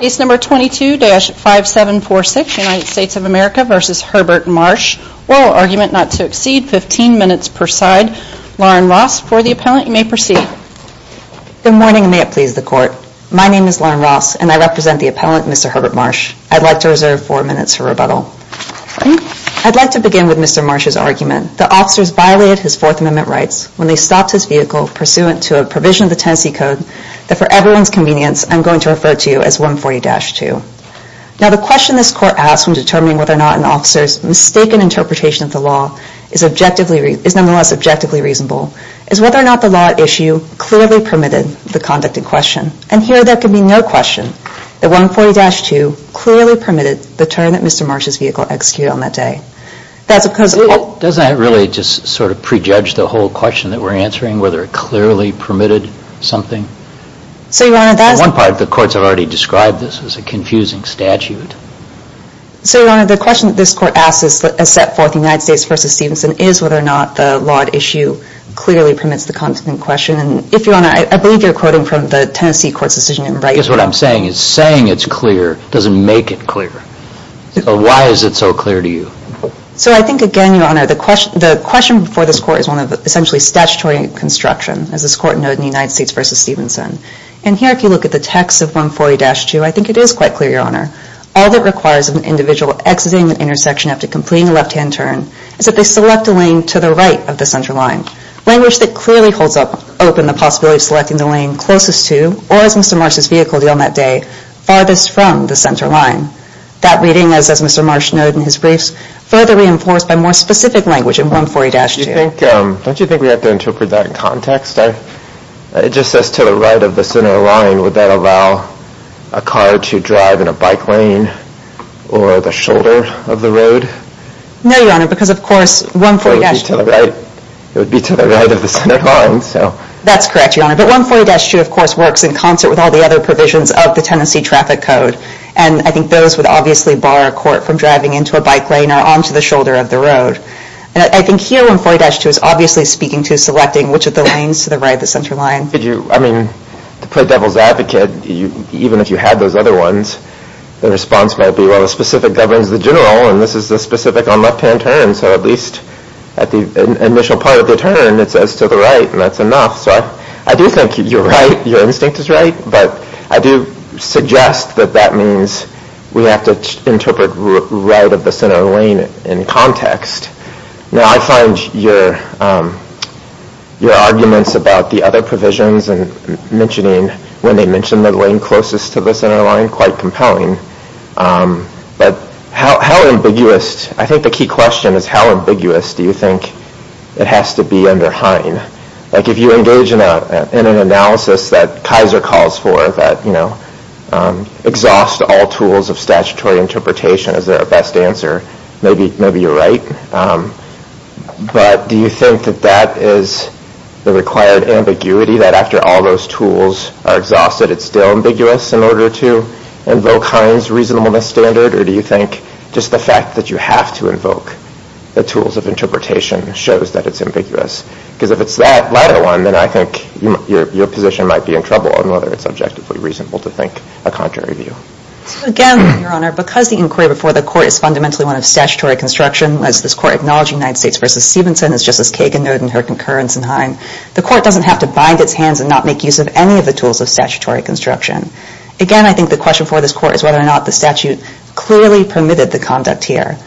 Case No. 22-5746, United States of America v. Herbert Marsh, Oral Argument Not to Exceed, 15 minutes per side. Lauren Ross for the appellant. You may proceed. Good morning and may it please the Court. My name is Lauren Ross and I represent the appellant Mr. Herbert Marsh. I'd like to reserve four minutes for rebuttal. I'd like to begin with Mr. Marsh's argument. The officers violated his Fourth Amendment rights when they stopped his vehicle pursuant to a provision of the Tennessee Code that for everyone's convenience I'm going to refer to as 140-2. Now the question this Court asks when determining whether or not an officer's mistaken interpretation of the law is nonetheless objectively reasonable is whether or not the law at issue clearly permitted the conducted question. And here there can be no question that 140-2 clearly permitted the turn that Mr. Marsh's vehicle executed on that day. Doesn't that really just sort of prejudge the whole question that we're answering, whether it clearly permitted something? So, Your Honor, that's... For one part the courts have already described this as a confusing statute. So, Your Honor, the question that this Court asks is set forth in United States v. Stevenson is whether or not the law at issue clearly permits the conducted question. And if Your Honor, I believe you're quoting from the Tennessee Court's decision in Brighton. I guess what I'm saying is saying it's clear doesn't make it clear. So why is it so clear to you? So I think again, Your Honor, the question for this Court is one of essentially statutory construction, as this Court noted in United States v. Stevenson. And here if you look at the text of 140-2, I think it is quite clear, Your Honor. All that requires of an individual exiting the intersection after completing a left-hand turn is that they select a lane to the right of the center line. Language that clearly holds open the possibility of selecting the lane closest to or, as Mr. Marsh's vehicle did on that day, farthest from the center line. That reading, as Mr. Marsh noted in his briefs, further reinforced by more specific language in 140-2. Don't you think we have to interpret that in context? It just says to the right of the center line. Would that allow a car to drive in a bike lane or the shoulder of the road? No, Your Honor, because of course 140-2... It would be to the right of the center line. That's correct, Your Honor. But 140-2, of course, works in concert with all the other provisions of the Tennessee Traffic Code. And I think those would obviously bar a court from driving into a bike lane or onto the shoulder of the road. And I think here 140-2 is obviously speaking to selecting which of the lanes to the right of the center line. Could you... I mean, to play devil's advocate, even if you had those other ones, the response might be, well, the specific governs the general, and this is the specific on left-hand turn. So at least at the initial part of the turn, it says to the right, and that's enough. So I do think you're right. Your instinct is right. But I do suggest that that means we have to interpret right of the center lane in context. Now, I find your arguments about the other provisions and mentioning when they mention the lane closest to the center line quite compelling. But how ambiguous... I think the key question is, how ambiguous do you think it has to be under Hine? Like if you engage in an analysis that Kaiser calls for that exhausts all tools of statutory interpretation as their best answer, maybe you're right. But do you think that that is the required ambiguity that after all those tools are exhausted, it's still ambiguous in order to invoke Hine's reasonableness standard? Or do you think just the fact that you have to invoke the tools of interpretation shows that it's ambiguous? Because if it's that latter one, then I think your position might be in trouble on whether it's objectively reasonable to think a contrary view. Again, Your Honor, because the inquiry before the Court is fundamentally one of statutory construction, as this Court acknowledged United States v. Stevenson, as Justice Kagan noted in her concurrence in Hine, the Court doesn't have to bind its hands and not make use of any of the tools of statutory construction. Again, I think the question for this Court is whether or not the statute clearly permitted the conduct here.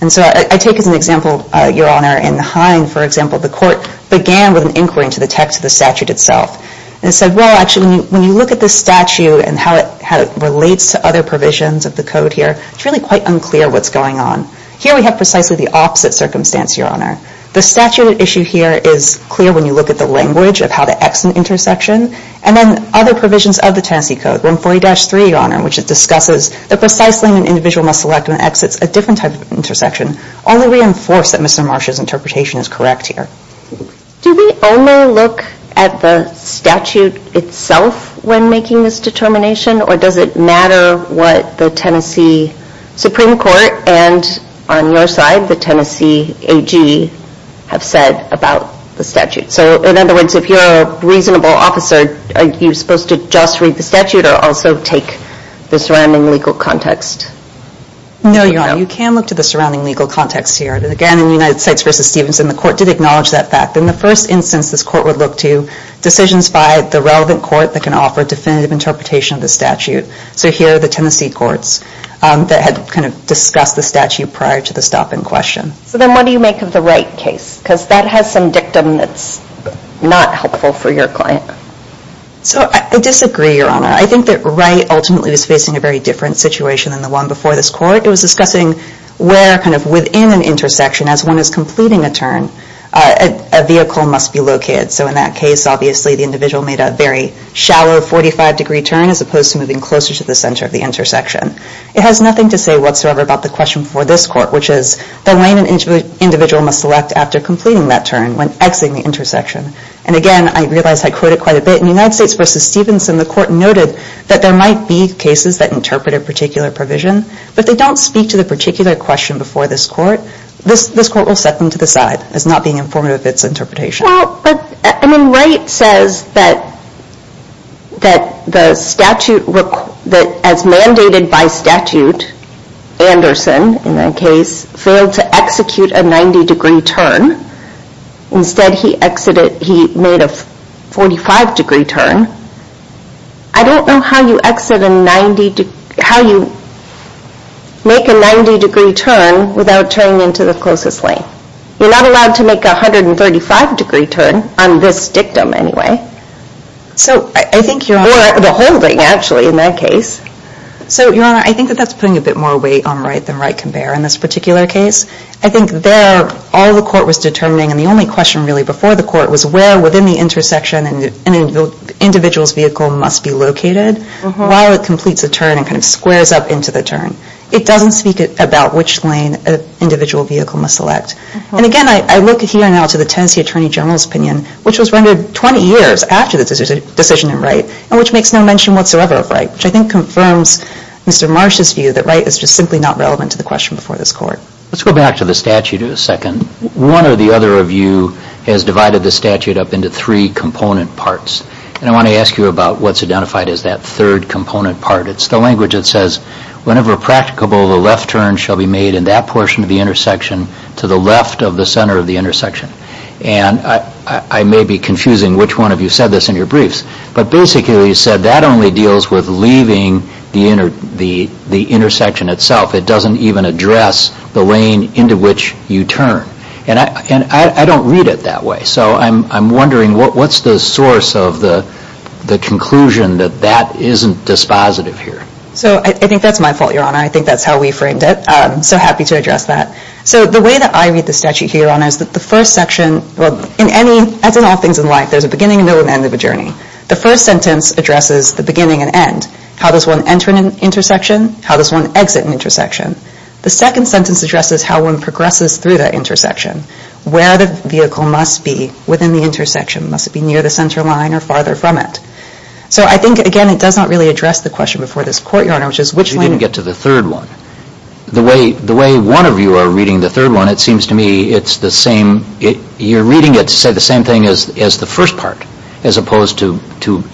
And so I take as an example, Your Honor, in Hine, for example, the Court began with an inquiry into the text of the If you look at this statute and how it relates to other provisions of the Code here, it's really quite unclear what's going on. Here we have precisely the opposite circumstance, Your Honor. The statute at issue here is clear when you look at the language of how to exit an intersection. And then other provisions of the Tennessee Code, 140-3, Your Honor, which discusses that precisely when an individual must select and exits a different type of intersection, only reinforce that Mr. Marsha's interpretation is correct here. Do we only look at the statute itself when making this determination, or does it matter what the Tennessee Supreme Court and, on your side, the Tennessee AG have said about the statute? So in other words, if you're a reasonable officer, are you supposed to just read the statute or also take the surrounding legal context? No, Your Honor. You can look to the surrounding legal context here. Again, in United States v. Stevenson, the court did acknowledge that fact. In the first instance, this court would look to decisions by the relevant court that can offer definitive interpretation of the statute. So here are the Tennessee courts that had kind of discussed the statute prior to the stop in question. So then what do you make of the Wright case? Because that has some dictum that's not helpful for your client. So I disagree, Your Honor. I think that Wright ultimately was facing a very different situation than the one before this court. It was discussing where kind of within an intersection, as one is completing a turn, a vehicle must be located. So in that case, obviously, the individual made a very shallow 45-degree turn as opposed to moving closer to the center of the intersection. It has nothing to say whatsoever about the question before this court, which is the lane an individual must select after completing that turn when exiting the intersection. And again, I realize I quoted quite a bit. In United States v. Stevenson, the court noted that there might be cases that interpret a particular provision, but they don't speak to the particular question before this court. This court will set them to the side as not being informative of its interpretation. Well, but, I mean, Wright says that the statute, as mandated by statute, Anderson, in that case, failed to execute a 90-degree turn. Instead, he exited, he made a 45-degree turn. I don't know how you exit a 90-degree, how you make a 90-degree turn without turning into the closest lane. You're not allowed to make a 135-degree turn on this dictum anyway. So I think, Your Honor, or the holding, actually, in that case. So Your Honor, I think that that's putting a bit more weight on Wright than Wright can bear in this particular case. I think there, all the court was determining, and the only question really before the court was where within the intersection an individual's vehicle must be located while it completes a turn and kind of squares up into the turn. It doesn't speak about which lane an individual vehicle must select. And again, I look here now to the Tennessee Attorney General's opinion, which was rendered 20 years after the decision in Wright, and which makes no mention whatsoever of Wright, which I think confirms Mr. Marsh's view that Wright is just simply not relevant to the question before this court. Let's go back to the statute a second. One or the other of you has divided the statute up into three component parts. And I want to ask you about what's identified as that third component part. It's the language that says, whenever practicable, the left turn shall be made in that portion of the intersection to the left of the center of the intersection. And I may be confusing which one of you said this in your briefs, but basically you said that only deals with leaving the intersection itself. It doesn't even address the lane into which you turn. And I don't read it that way. So I'm wondering what's the source of the conclusion that that isn't dispositive here? So I think that's my fault, Your Honor. I think that's how we framed it. I'm so happy to address that. So the way that I read the statute here, Your Honor, is that the first section, as in all things in life, there's a beginning, a middle, and an end of a journey. The first sentence addresses the beginning and end. How does one enter an intersection? How does one exit an intersection? The second sentence addresses how one progresses through that intersection. Where the vehicle must be within the intersection. Must it be near the center line or farther from it? So I think, again, it does not really address the question before this Court, Your Honor, which is which lane... You didn't get to the third one. The way one of you are reading the third one, it seems to me it's the same. You're reading it to say the same thing as the first part, as opposed to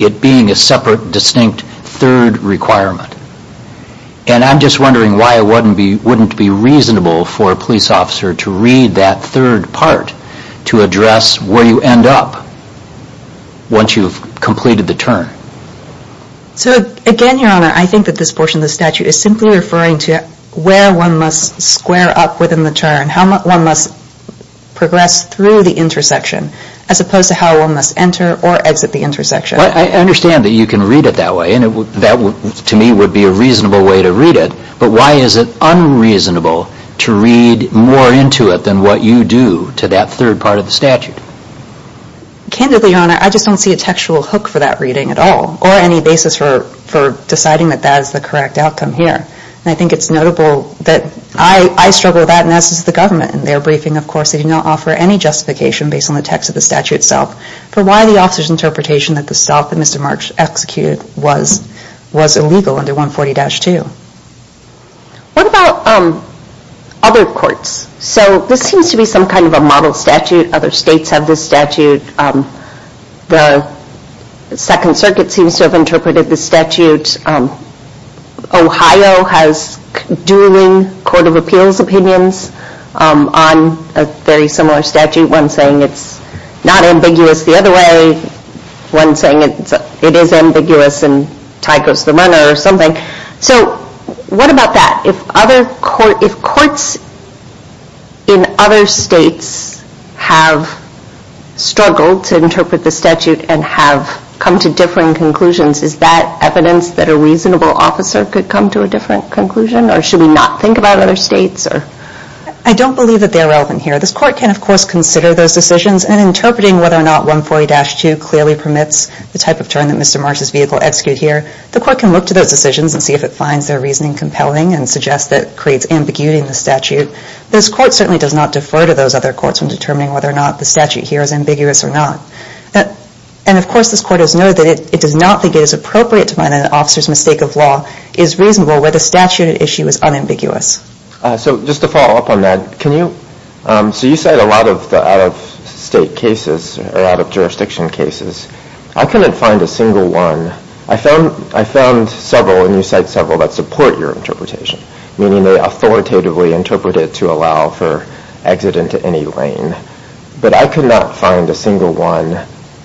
it being a separate, distinct third requirement. And I'm just wondering why it wouldn't be reasonable for a police officer to read that third part to address where you end up once you've completed the turn. So again, Your Honor, I think that this portion of the statute is simply referring to where one must square up within the turn, how one must progress through the intersection, as opposed to how one must enter or exit the intersection. I understand that you can read it that way, and that to me would be a reasonable way to read it, but why is it unreasonable to read more into it than what you do to that third part of the statute? Candidly, Your Honor, I just don't see a textual hook for that reading at all, or any basis for deciding that that is the correct outcome here. And I think it's notable that I struggle with that, and as does the government. In their briefing, of course, they do not offer any justification based on the text of the statute itself for why the officer's interpretation that the stop that Mr. March executed was illegal under 140-2. What about other courts? So this seems to be some kind of a model statute. Other states have this statute. The Second Circuit seems to have interpreted this statute. Ohio has dueling Court of Appeals opinions on a very similar statute, one saying it's not ambiguous the other way, one saying it is ambiguous and tie goes to the runner or something. So what about that? If courts in other states have struggled to interpret the statute and have come to differing conclusions, is that evidence that a reasonable officer could come to a different conclusion, or should we not think about other states? I don't believe that they're relevant here. This Court can, of course, consider those decisions and interpreting whether or not 140-2 clearly permits the type of turn that Mr. March's vehicle executed here. The Court can look to those decisions and see if it finds their reasoning compelling and suggest that it creates ambiguity in the statute. This Court certainly does not defer to those other courts in determining whether or not the statute here is ambiguous or not. And of course, this Court has noted that it does not think it is appropriate to find that an officer's mistake of law is reasonable where the statute at issue is unambiguous. So just to follow up on that, can you, so you cite a lot of the out-of-state cases or out-of-jurisdiction cases. I couldn't find a single one. I found several, and you cite several, that support your interpretation, meaning they authoritatively interpret it to allow for exit into any lane. But I could not find a single one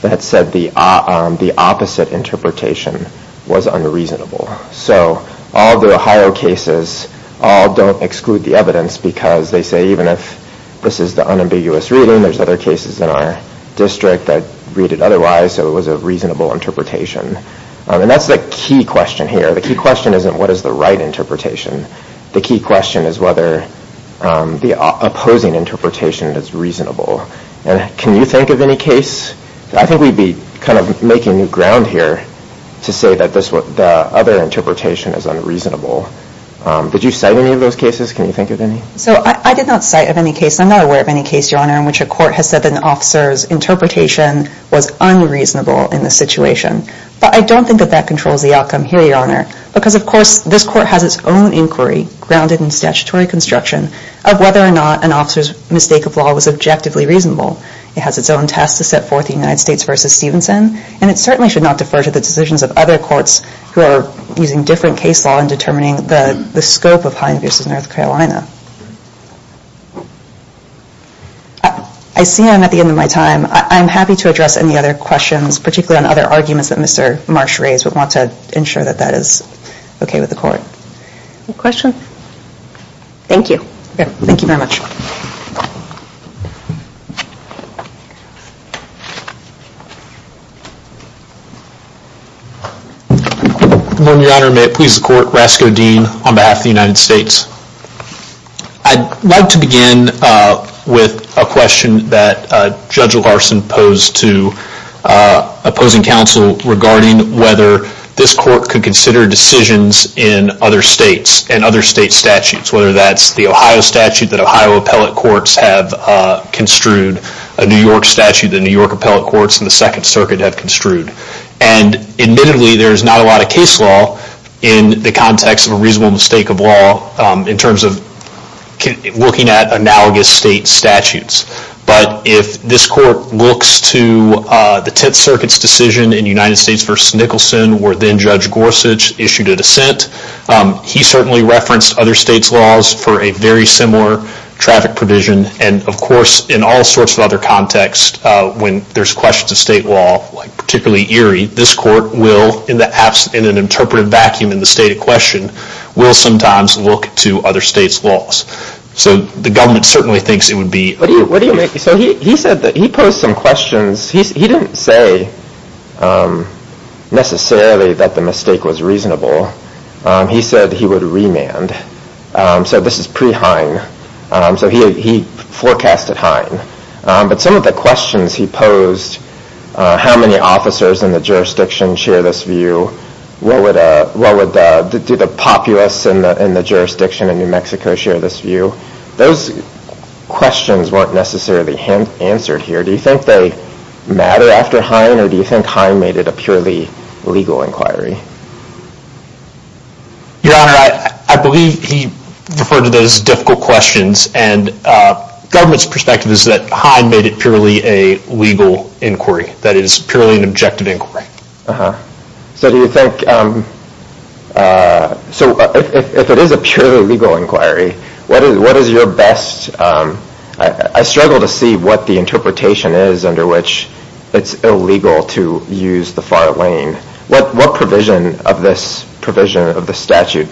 that said the opposite interpretation was unreasonable. So all the Ohio cases all don't exclude the evidence because they say even if this is the unambiguous reading, there's other cases in our district that read it otherwise, so it was a reasonable interpretation. And that's the key question here. The key question isn't what is the right interpretation. The key question is whether the opposing interpretation is reasonable. And can you think of any case? I think we'd be kind of making new ground here to say that the other interpretation is unreasonable. Did you cite any of those cases? Can you think of any? So I did not cite of any case. I'm not aware of any case, Your Honor, in which a court has said that an officer's interpretation was unreasonable in the situation. But I don't think that that controls the outcome here, Your Honor, because of course this court has its own inquiry, grounded in statutory construction, of whether or not an officer's mistake of law was objectively reasonable. It has its own test to set forth in the United States v. Stevenson, and it certainly should not defer to the decisions of other courts who are using different case law in determining the scope of Hines v. North Carolina. I see I'm at the end of my time. I'm happy to address any other questions, particularly on other arguments that Mr. Marsh raised, but want to ensure that that is okay with the court. Any questions? Thank you. Okay. Thank you very much. Your Honor, may it please the Court, Rasko Dean on behalf of the United States. I'd like to begin with a question that Judge Larson posed to opposing counsel regarding whether this court could consider decisions in other states and other state statutes, whether that's the Ohio statute that Ohio appellate courts have construed, a New York statute that New York appellate courts in the Second Circuit have construed. And admittedly, there's not a lot of case law in the context of a reasonable mistake of law in terms of looking at analogous state statutes. But if this court looks to the Tenth Circuit's decision in United States v. Nicholson where then Judge Gorsuch issued a dissent, he certainly referenced other states' laws for a very similar traffic provision. And of course, in all sorts of other contexts, when there's questions of state law, particularly Erie, this court will in an interpretive vacuum in the state of question, will sometimes look to other states' laws. So the government certainly thinks it would be... What do you make... So he said that he posed some questions. He didn't say necessarily that the mistake was reasonable. He said he would remand. So this is pre-Hein. So he forecasted Hein. But some of the questions he posed, how many officers in the jurisdiction share this view? Do the populace in the jurisdiction in New Mexico share this view? Those questions weren't necessarily answered here. Do you think they matter after Hein? Or do you think Hein made it a purely legal inquiry? Your Honor, I believe he referred to those difficult questions. And government's perspective is that Hein made it purely a legal inquiry. That it is purely an objective inquiry. So do you think... So if it is a purely legal inquiry, what is your best... I struggle to see what the interpretation is under which it's illegal to use the far lane. What provision of this provision of the statute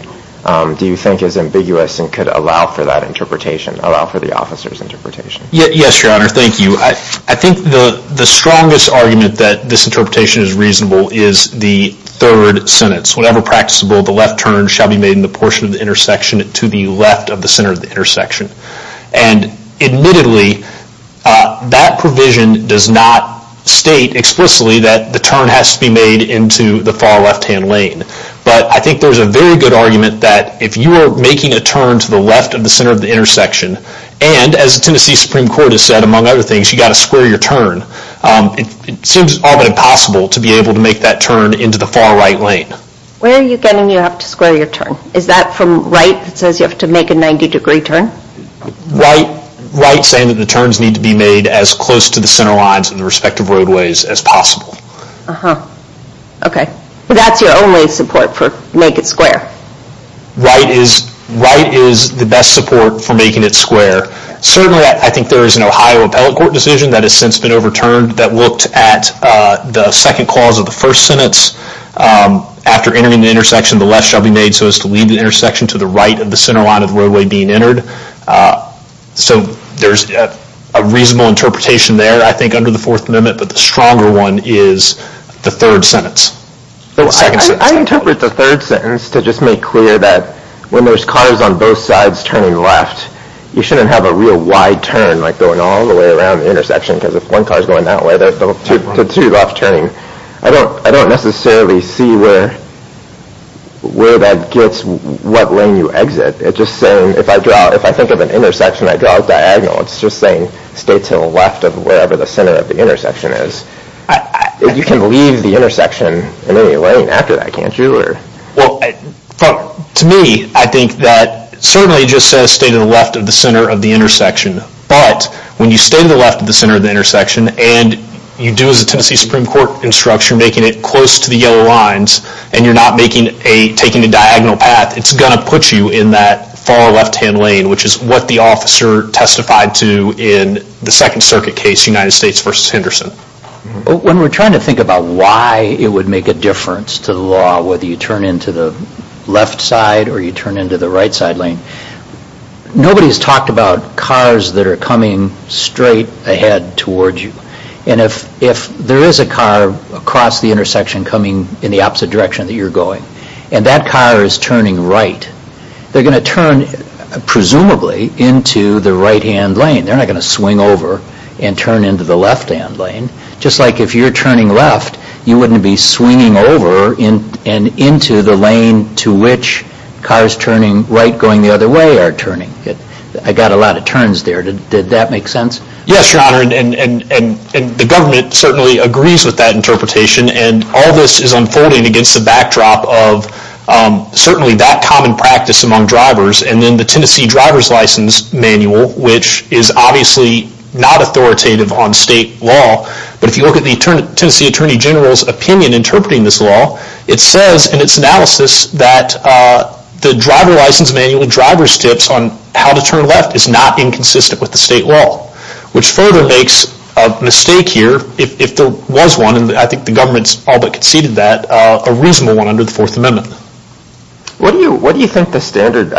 do you think is ambiguous and could allow for that interpretation, allow for the officer's interpretation? Yes, Your Honor. Thank you. I think the strongest argument that this interpretation is reasonable is the third sentence. Whatever practicable, the left turn shall be made in the portion of the intersection to the left of the center of the intersection. And admittedly, that provision does not state explicitly that the turn has to be made into the far left-hand lane. But I think there's a very good argument that if you are making a turn to the left of the center of the intersection, and as the Tennessee Supreme Court has said, among other things, you've got to square your turn, it seems almost impossible to be able to make that turn into the far right lane. Where are you getting you have to square your turn? Is that from right that says you have to make a 90 degree turn? Right saying that the turns need to be made as close to the center lines of the respective roadways as possible. Uh-huh. Okay. That's your only support for make it square. Right is the best support for making it square. Certainly, I think there is an Ohio Appellate Court decision that has since been overturned that looked at the second clause of the first sentence. After entering the intersection, the left shall be made so as to lead the intersection to the right of the center line of the roadway being entered. So there's a reasonable interpretation there, I think, under the Fourth Amendment. But the stronger one is the third sentence. I interpret the third sentence to just make clear that when there's cars on both sides turning left, you shouldn't have a real wide turn like going all the way around the intersection because if one car is going that way, there's two left turning. I don't necessarily see where that gets what lane you exit. It's just saying if I think of an intersection, I draw a diagonal. It's just saying stay to the left of wherever the center of the intersection is. You can leave the intersection in any lane after that, can't you? Well, to me, I think that certainly just says stay to the left of the center of the intersection. But when you stay to the left of the center of the intersection and you do as a Tennessee Supreme Court instruction, making it close to the yellow lines and you're not taking a diagonal path, it's going to put you in that far left-hand lane, which is what the officer testified to in the Second Circuit case, United States v. Henderson. When we're trying to think about why it would make a difference to the law, whether you turn into the left side or you turn into the right side lane, nobody's talked about cars that are coming straight ahead towards you. And if there is a car across the intersection coming in the opposite direction that you're going, and that car is turning right, they're going to turn, presumably, into the right-hand lane. They're not going to swing over and turn into the left-hand lane. Just like if you're turning left, you wouldn't be swinging over and into the lane to which cars turning right going the other way are turning. I got a lot of turns there. Did that make sense? Yes, Your Honor, and the government certainly agrees with that interpretation, and all this is unfolding against the backdrop of certainly that common practice among drivers. And then the Tennessee Driver's License Manual, which is obviously not authoritative on state law, but if you look at the Tennessee Attorney General's opinion interpreting this law, it says in its analysis that the driver's license manual, driver's tips on how to turn left, is not inconsistent with the state law, which further makes a mistake here if there was one, and I think the government's all but conceded that, a reasonable one under the Fourth Amendment. What do you think the standard,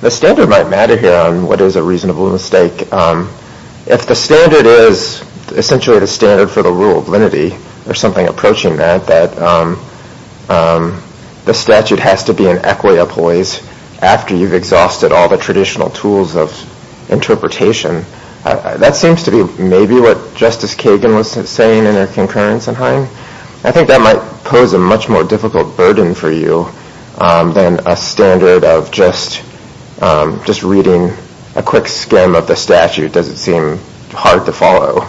the standard might matter here on what is a reasonable mistake. If the standard is essentially the standard for the rule of lenity, or something approaching that, that the statute has to be an equi-employees after you've exhausted all the traditional tools of interpretation, that seems to be maybe what Justice Kagan was saying in her concurrence in Hine. I think that might pose a much more difficult burden for you than a standard of just reading a quick skim of the statute does it seem hard to follow.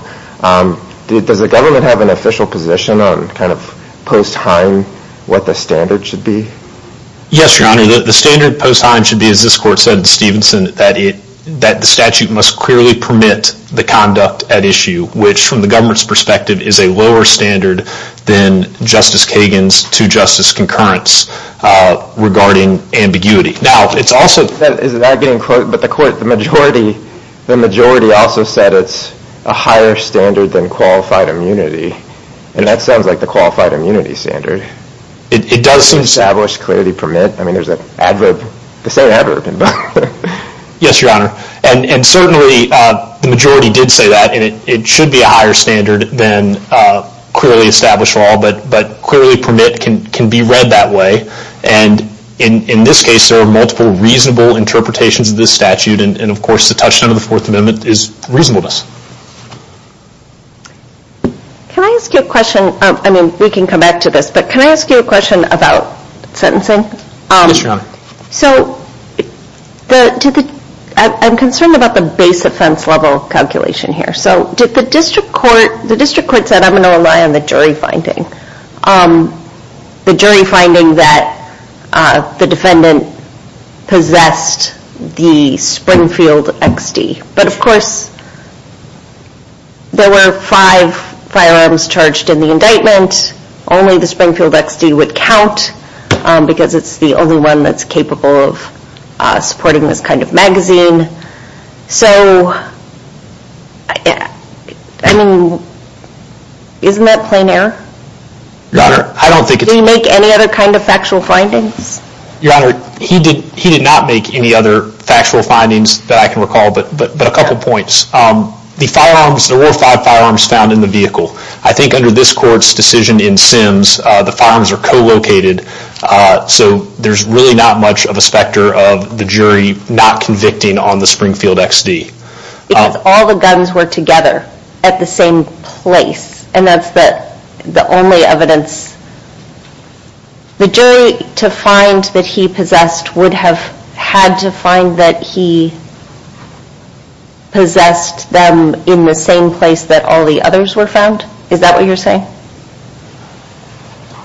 Does the government have an official position on kind of post-Hine what the standard should be? Yes, Your Honor, the standard post-Hine should be, as this court said in Stevenson, that the statute must clearly permit the conduct at issue, which from the government's perspective is a lower standard than Justice Kagan's to Justice Concurrent's regarding ambiguity. Now it's also, is that getting close, but the court, the majority also said it's a higher standard than qualified immunity, and that sounds like the qualified immunity standard. It does seem established, clearly permit, I mean there's an adverb, they say adverb in both of them. Yes, Your Honor, and certainly the majority did say that, and it should be a higher standard than clearly established law, but clearly permit can be read that way, and in this case there are multiple reasonable interpretations of this statute, and of course the touchstone of the Fourth Amendment is reasonableness. Can I ask you a question, I mean we can come back to this, but can I ask you a question about sentencing? Yes, Your Honor. So, I'm concerned about the base offense level calculation here, so did the district court, the district court said I'm going to rely on the jury finding, the jury finding that the defendant possessed the Springfield XD, but of course there were five firearms charged in the indictment, only the Springfield XD would count, because it's the only one that's capable of supporting this kind of magazine, so, I mean, isn't that plain error? Your Honor, I don't think it's... Did he make any other kind of factual findings? Your Honor, he did not make any other factual findings that I can recall, but a couple points. The firearms, there were five firearms found in the vehicle. I think under this court's decision in Sims, the firearms are co-located, so there's really not much of a specter of the jury not convicting on the Springfield XD. Because all the guns were together at the same place, and that's the only evidence... The jury, to find that he possessed, would have had to find that he possessed them in the same place that all the others were found? Is that what you're saying?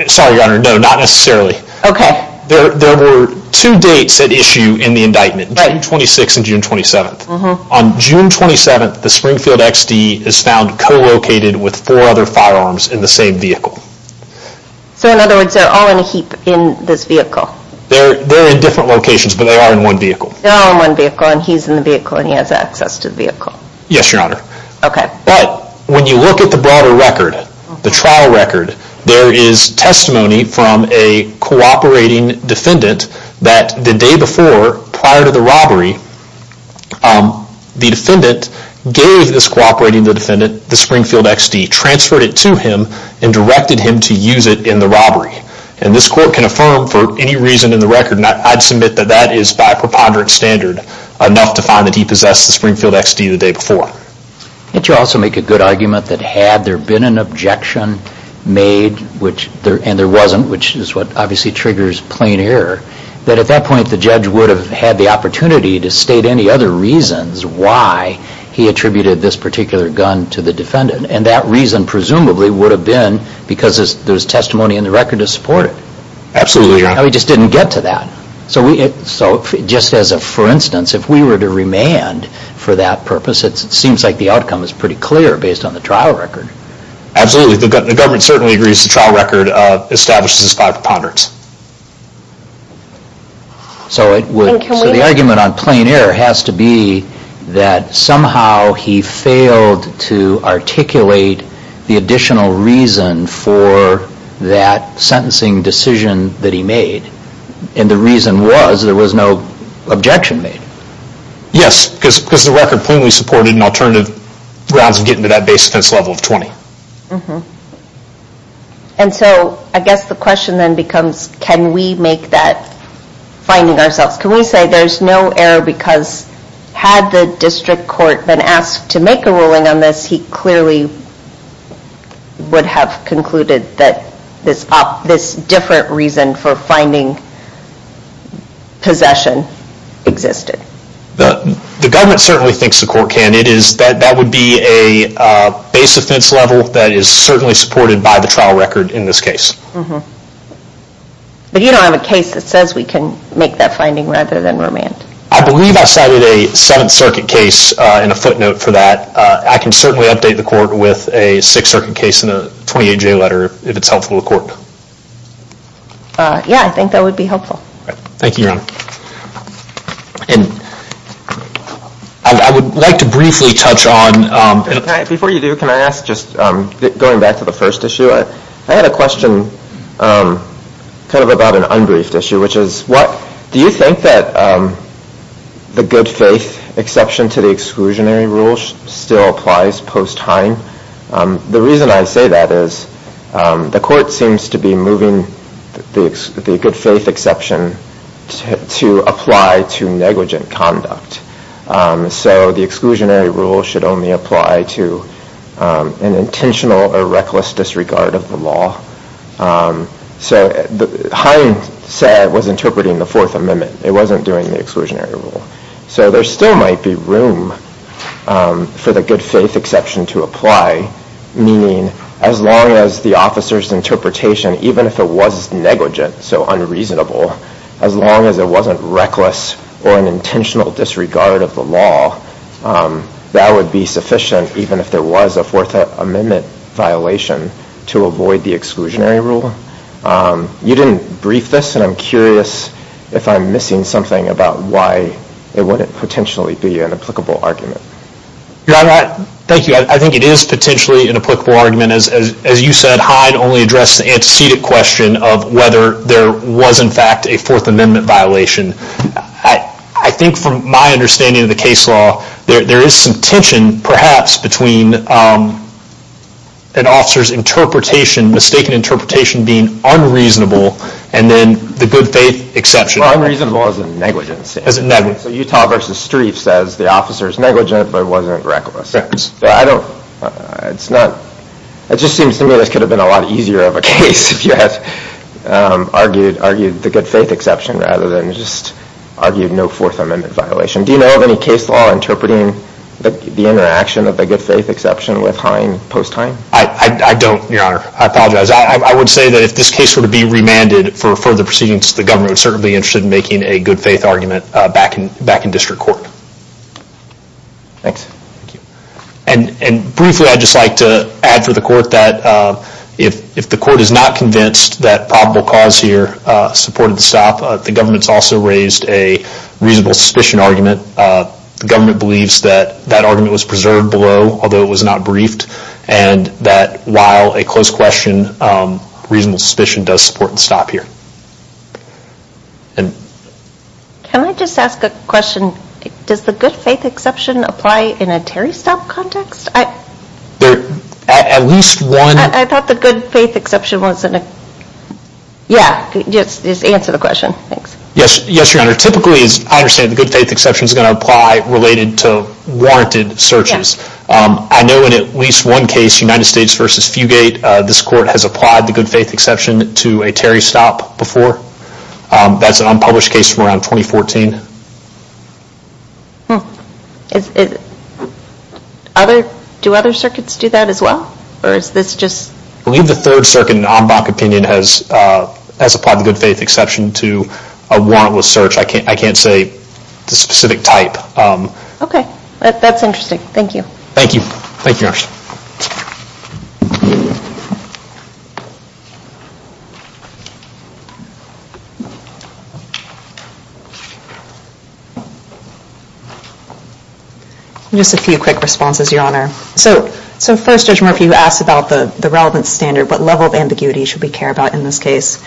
Sorry, Your Honor, no, not necessarily. Okay. There were two dates at issue in the indictment, June 26th and June 27th. On June 27th, the Springfield XD is found co-located with four other firearms in the same vehicle. So, in other words, they're all in a heap in this vehicle? They're in different locations, but they are in one vehicle. They're all in one vehicle, and he's in the vehicle, and he has access to the vehicle? Yes, Your Honor. Okay. But, when you look at the broader record, the trial record, there is testimony from a cooperating defendant that the day before, prior to the robbery, the defendant gave this cooperating defendant the Springfield XD, transferred it to him, and directed him to use it in the robbery. And this court can affirm, for any reason in the record, and I'd submit that that is by preponderance standard, enough to find that he possessed the Springfield XD the day before. Can't you also make a good argument that had there been an objection made, and there wasn't, which is what obviously triggers plain error, that at that point the judge would have had the opportunity to state any other reasons why he attributed this particular gun to the defendant. And that reason, presumably, would have been because there's testimony in the record to support it. Absolutely, Your Honor. No, he just didn't get to that. So, just as a for instance, if we were to remand for that purpose, it seems like the outcome is pretty clear based on the trial record. Absolutely. The government certainly agrees the trial record establishes this by preponderance. So the argument on plain error has to be that somehow he failed to articulate the additional reason for that sentencing decision that he made, and the reason was there was no objection made. Yes, because the record plainly supported an alternative grounds of getting to that base offense level of 20. And so, I guess the question then becomes, can we make that finding ourselves? Can we say there's no error because had the district court been asked to make a ruling on this, he clearly would have concluded that this different reason for finding possession existed. The government certainly thinks the court can. It is that that would be a base offense level that is certainly supported by the trial record in this case. But you don't have a case that says we can make that finding rather than remand. I believe I cited a Seventh Circuit case in a footnote for that. I can certainly update the court with a Sixth Circuit case in a 28-J letter, if it's helpful to the court. Yeah, I think that would be helpful. Thank you, Your Honor. I would like to briefly touch on... Before you do, can I ask, just going back to the first issue, I had a question kind of about an unbriefed issue, which is, do you think that the good faith exception to the exclusionary rule still applies post-Hein? The reason I say that is the court seems to be moving the good faith exception to apply to negligent conduct. So the exclusionary rule should only apply to an intentional or reckless disregard of the law. So Hein was interpreting the Fourth Amendment. It wasn't doing the exclusionary rule. So there still might be room for the good faith exception to apply, meaning as long as the officer's interpretation, even if it was negligent, so unreasonable, as long as it wasn't reckless or an intentional disregard of the law, that would be sufficient, even if there was a Fourth Amendment violation, to avoid the exclusionary rule. You didn't brief this, and I'm curious if I'm missing something about why it wouldn't potentially be an applicable argument. Your Honor, thank you. I think it is potentially an applicable argument. As you said, Hein only addressed the antecedent question of whether there was in fact a Fourth Amendment violation. I think from my understanding of the case law, there is some tension, perhaps, between an officer's interpretation, mistaken interpretation, being unreasonable, and then the good faith exception. Unreasonable as in negligence. As in negligence. So Utah v. Strieff says the officer is negligent but wasn't reckless. It just seems to me this could have been a lot easier of a case if you had argued the good faith exception rather than just argued no Fourth Amendment violation. Do you know of any case law interpreting the interaction of the good faith exception with Hein post-Hein? I don't, Your Honor. I apologize. I would say that if this case were to be remanded for further proceedings, the government would certainly be interested in making a good faith argument back in district court. Thanks. And briefly, I'd just like to add for the court that if the court is not convinced that probable cause here supported the stop, the government's also raised a reasonable suspicion argument. The government believes that that argument was preserved below, although it was not briefed, and that while a close question, reasonable suspicion does support the stop here. Can I just ask a question? Does the good faith exception apply in a Terry stop context? At least one... I thought the good faith exception was in a... Yeah, just answer the question. Thanks. Yes, Your Honor. Typically, as I understand it, the good faith exception is going to apply related to warranted searches. I know in at least one case, United States v. Fugate, this court has applied the good faith exception to a Terry stop before. That's an unpublished case from around 2014. Do other circuits do that as well, or is this just... I believe the third circuit in Ambach opinion has applied the good faith exception to a warrantless search. I can't say the specific type. Okay. That's interesting. Thank you. Thank you. Thank you, Your Honor. Just a few quick responses, Your Honor. So first, Judge Murphy, you asked about the relevant standard. What level of ambiguity should we care about in this case?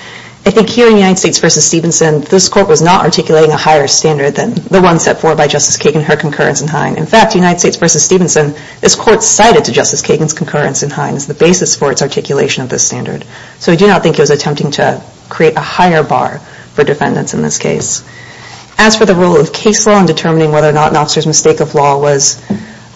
I think here in United States v. Stevenson, this court was not articulating a higher standard than the one set forth by Justice Kagan and her concurrence in Hine. In fact, United States v. Stevenson, this court cited to Justice Kagan's concurrence in Hine as the basis for its articulation of this standard. So I do not think it was attempting to create a higher bar for defendants in this case. As for the role of case law in determining whether or not an officer's mistake of law was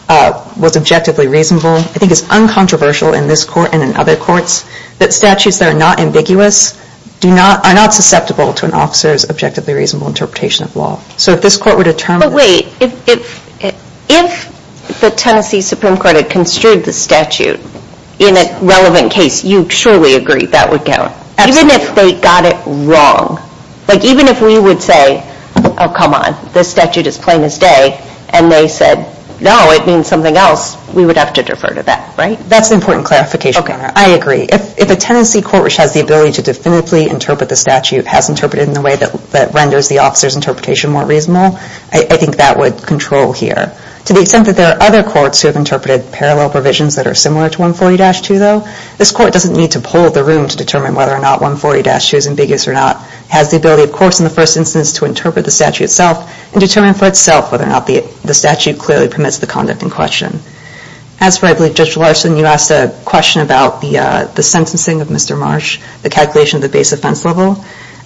objectively reasonable, I think it's uncontroversial in this court and in other courts that statutes that are not ambiguous are not susceptible to an officer's objectively reasonable interpretation of law. So if this court were to determine... But wait. If the Tennessee Supreme Court had construed the statute in a relevant case, you surely agree that would count. Absolutely. Even if they got it wrong. Like, even if we would say, oh, come on, this statute is plain as day, and they said, no, it means something else, we would have to defer to that, right? That's an important clarification, Your Honor. I agree. If a Tennessee court which has the ability to definitively interpret the statute has interpreted it in a way that renders the officer's interpretation more reasonable, I think that would control here. To the extent that there are other courts who have interpreted parallel provisions that are similar to 140-2, though, this court doesn't need to poll the room to determine whether or not 140-2 is ambiguous or not. It has the ability, of course, in the first instance to interpret the statute itself and determine for itself whether or not the statute clearly permits the conduct in question. As for, I believe, Judge Larson, you asked a question about the sentencing of Mr. Marsh, the calculation of the base offense level.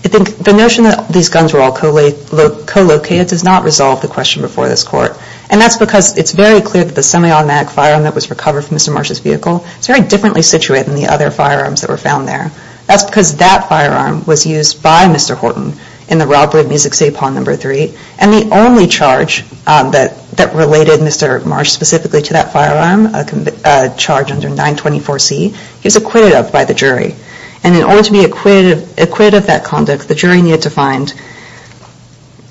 I think the notion that these guns were all co-located does not resolve the question before this court. And that's because it's very clear that the semi-automatic firearm that was recovered from Mr. Marsh's vehicle is very differently situated than the other firearms that were found there. That's because that firearm was used by Mr. Horton in the robbery of Music City Pond Number 3. And the only charge that related Mr. Marsh specifically to that firearm, a charge under 924C, is acquitted of by the jury. And in order to be acquitted of that conduct, the jury needed to find,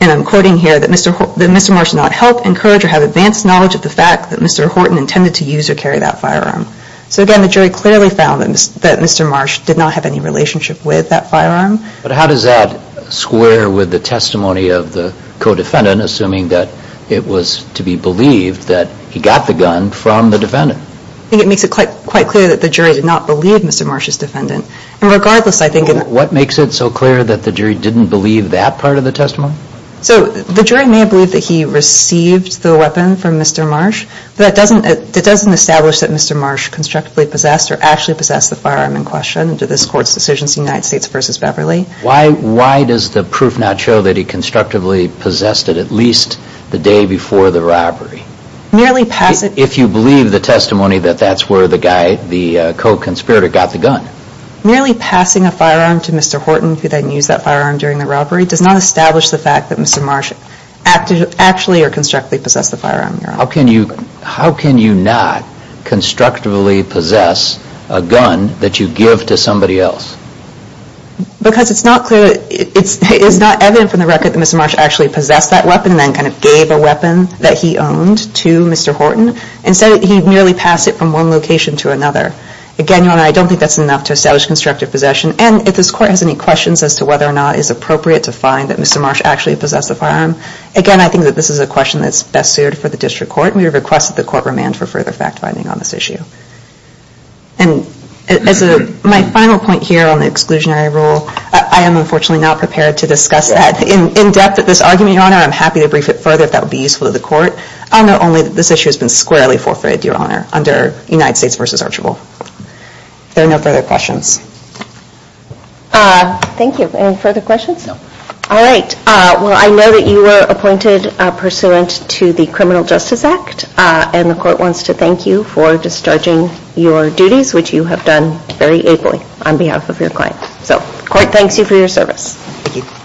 and I'm quoting here, that Mr. Marsh did not help encourage or have advanced knowledge of the fact that Mr. Horton intended to use or carry that firearm. So again, the jury clearly found that Mr. Marsh did not have any relationship with that firearm. But how does that square with the testimony of the co-defendant, assuming that it was to be believed that he got the gun from the defendant? I think it makes it quite clear that the jury did not believe Mr. Marsh's defendant. And regardless, I think in... What makes it so clear that the jury didn't believe that part of the testimony? So the jury may have believed that he received the weapon from Mr. Marsh, but that doesn't establish that Mr. Marsh constructively possessed or actually possessed the firearm in question to this court's decision in the United States v. Beverly. Why does the proof not show that he constructively possessed it at least the day before the robbery? If you believe the testimony that that's where the guy, the co-conspirator, got the gun. Merely passing a firearm to Mr. Horton, who then used that firearm during the robbery, does not establish the fact that Mr. Marsh actually or constructively possessed the firearm. How can you not constructively possess a gun that you give to somebody else? Because it's not clear, it's not evident from the record that Mr. Marsh actually possessed that weapon and then kind of gave a weapon that he owned to Mr. Horton. Instead, he merely passed it from one location to another. Again, Your Honor, I don't think that's enough to establish constructive possession. And if this court has any questions as to whether or not it's appropriate to find that Mr. Marsh actually possessed the firearm, again, I think that this is a question that's best suited for the district court and we request that the court remand for further fact-finding on this issue. And as my final point here on the exclusionary rule, I am unfortunately not prepared to discuss that in depth at this argument, Your Honor. I'm happy to brief it further if that would be useful to the court. I know only that this issue has been squarely forfeited, Your Honor, under United States v. Archibald. If there are no further questions. Thank you. Any further questions? No. All right. Well, I know that you were appointed pursuant to the Criminal Justice Act and the court wants to thank you for discharging your duties, which you have done very ably on behalf of your client. So, the court thanks you for your service. Thank you.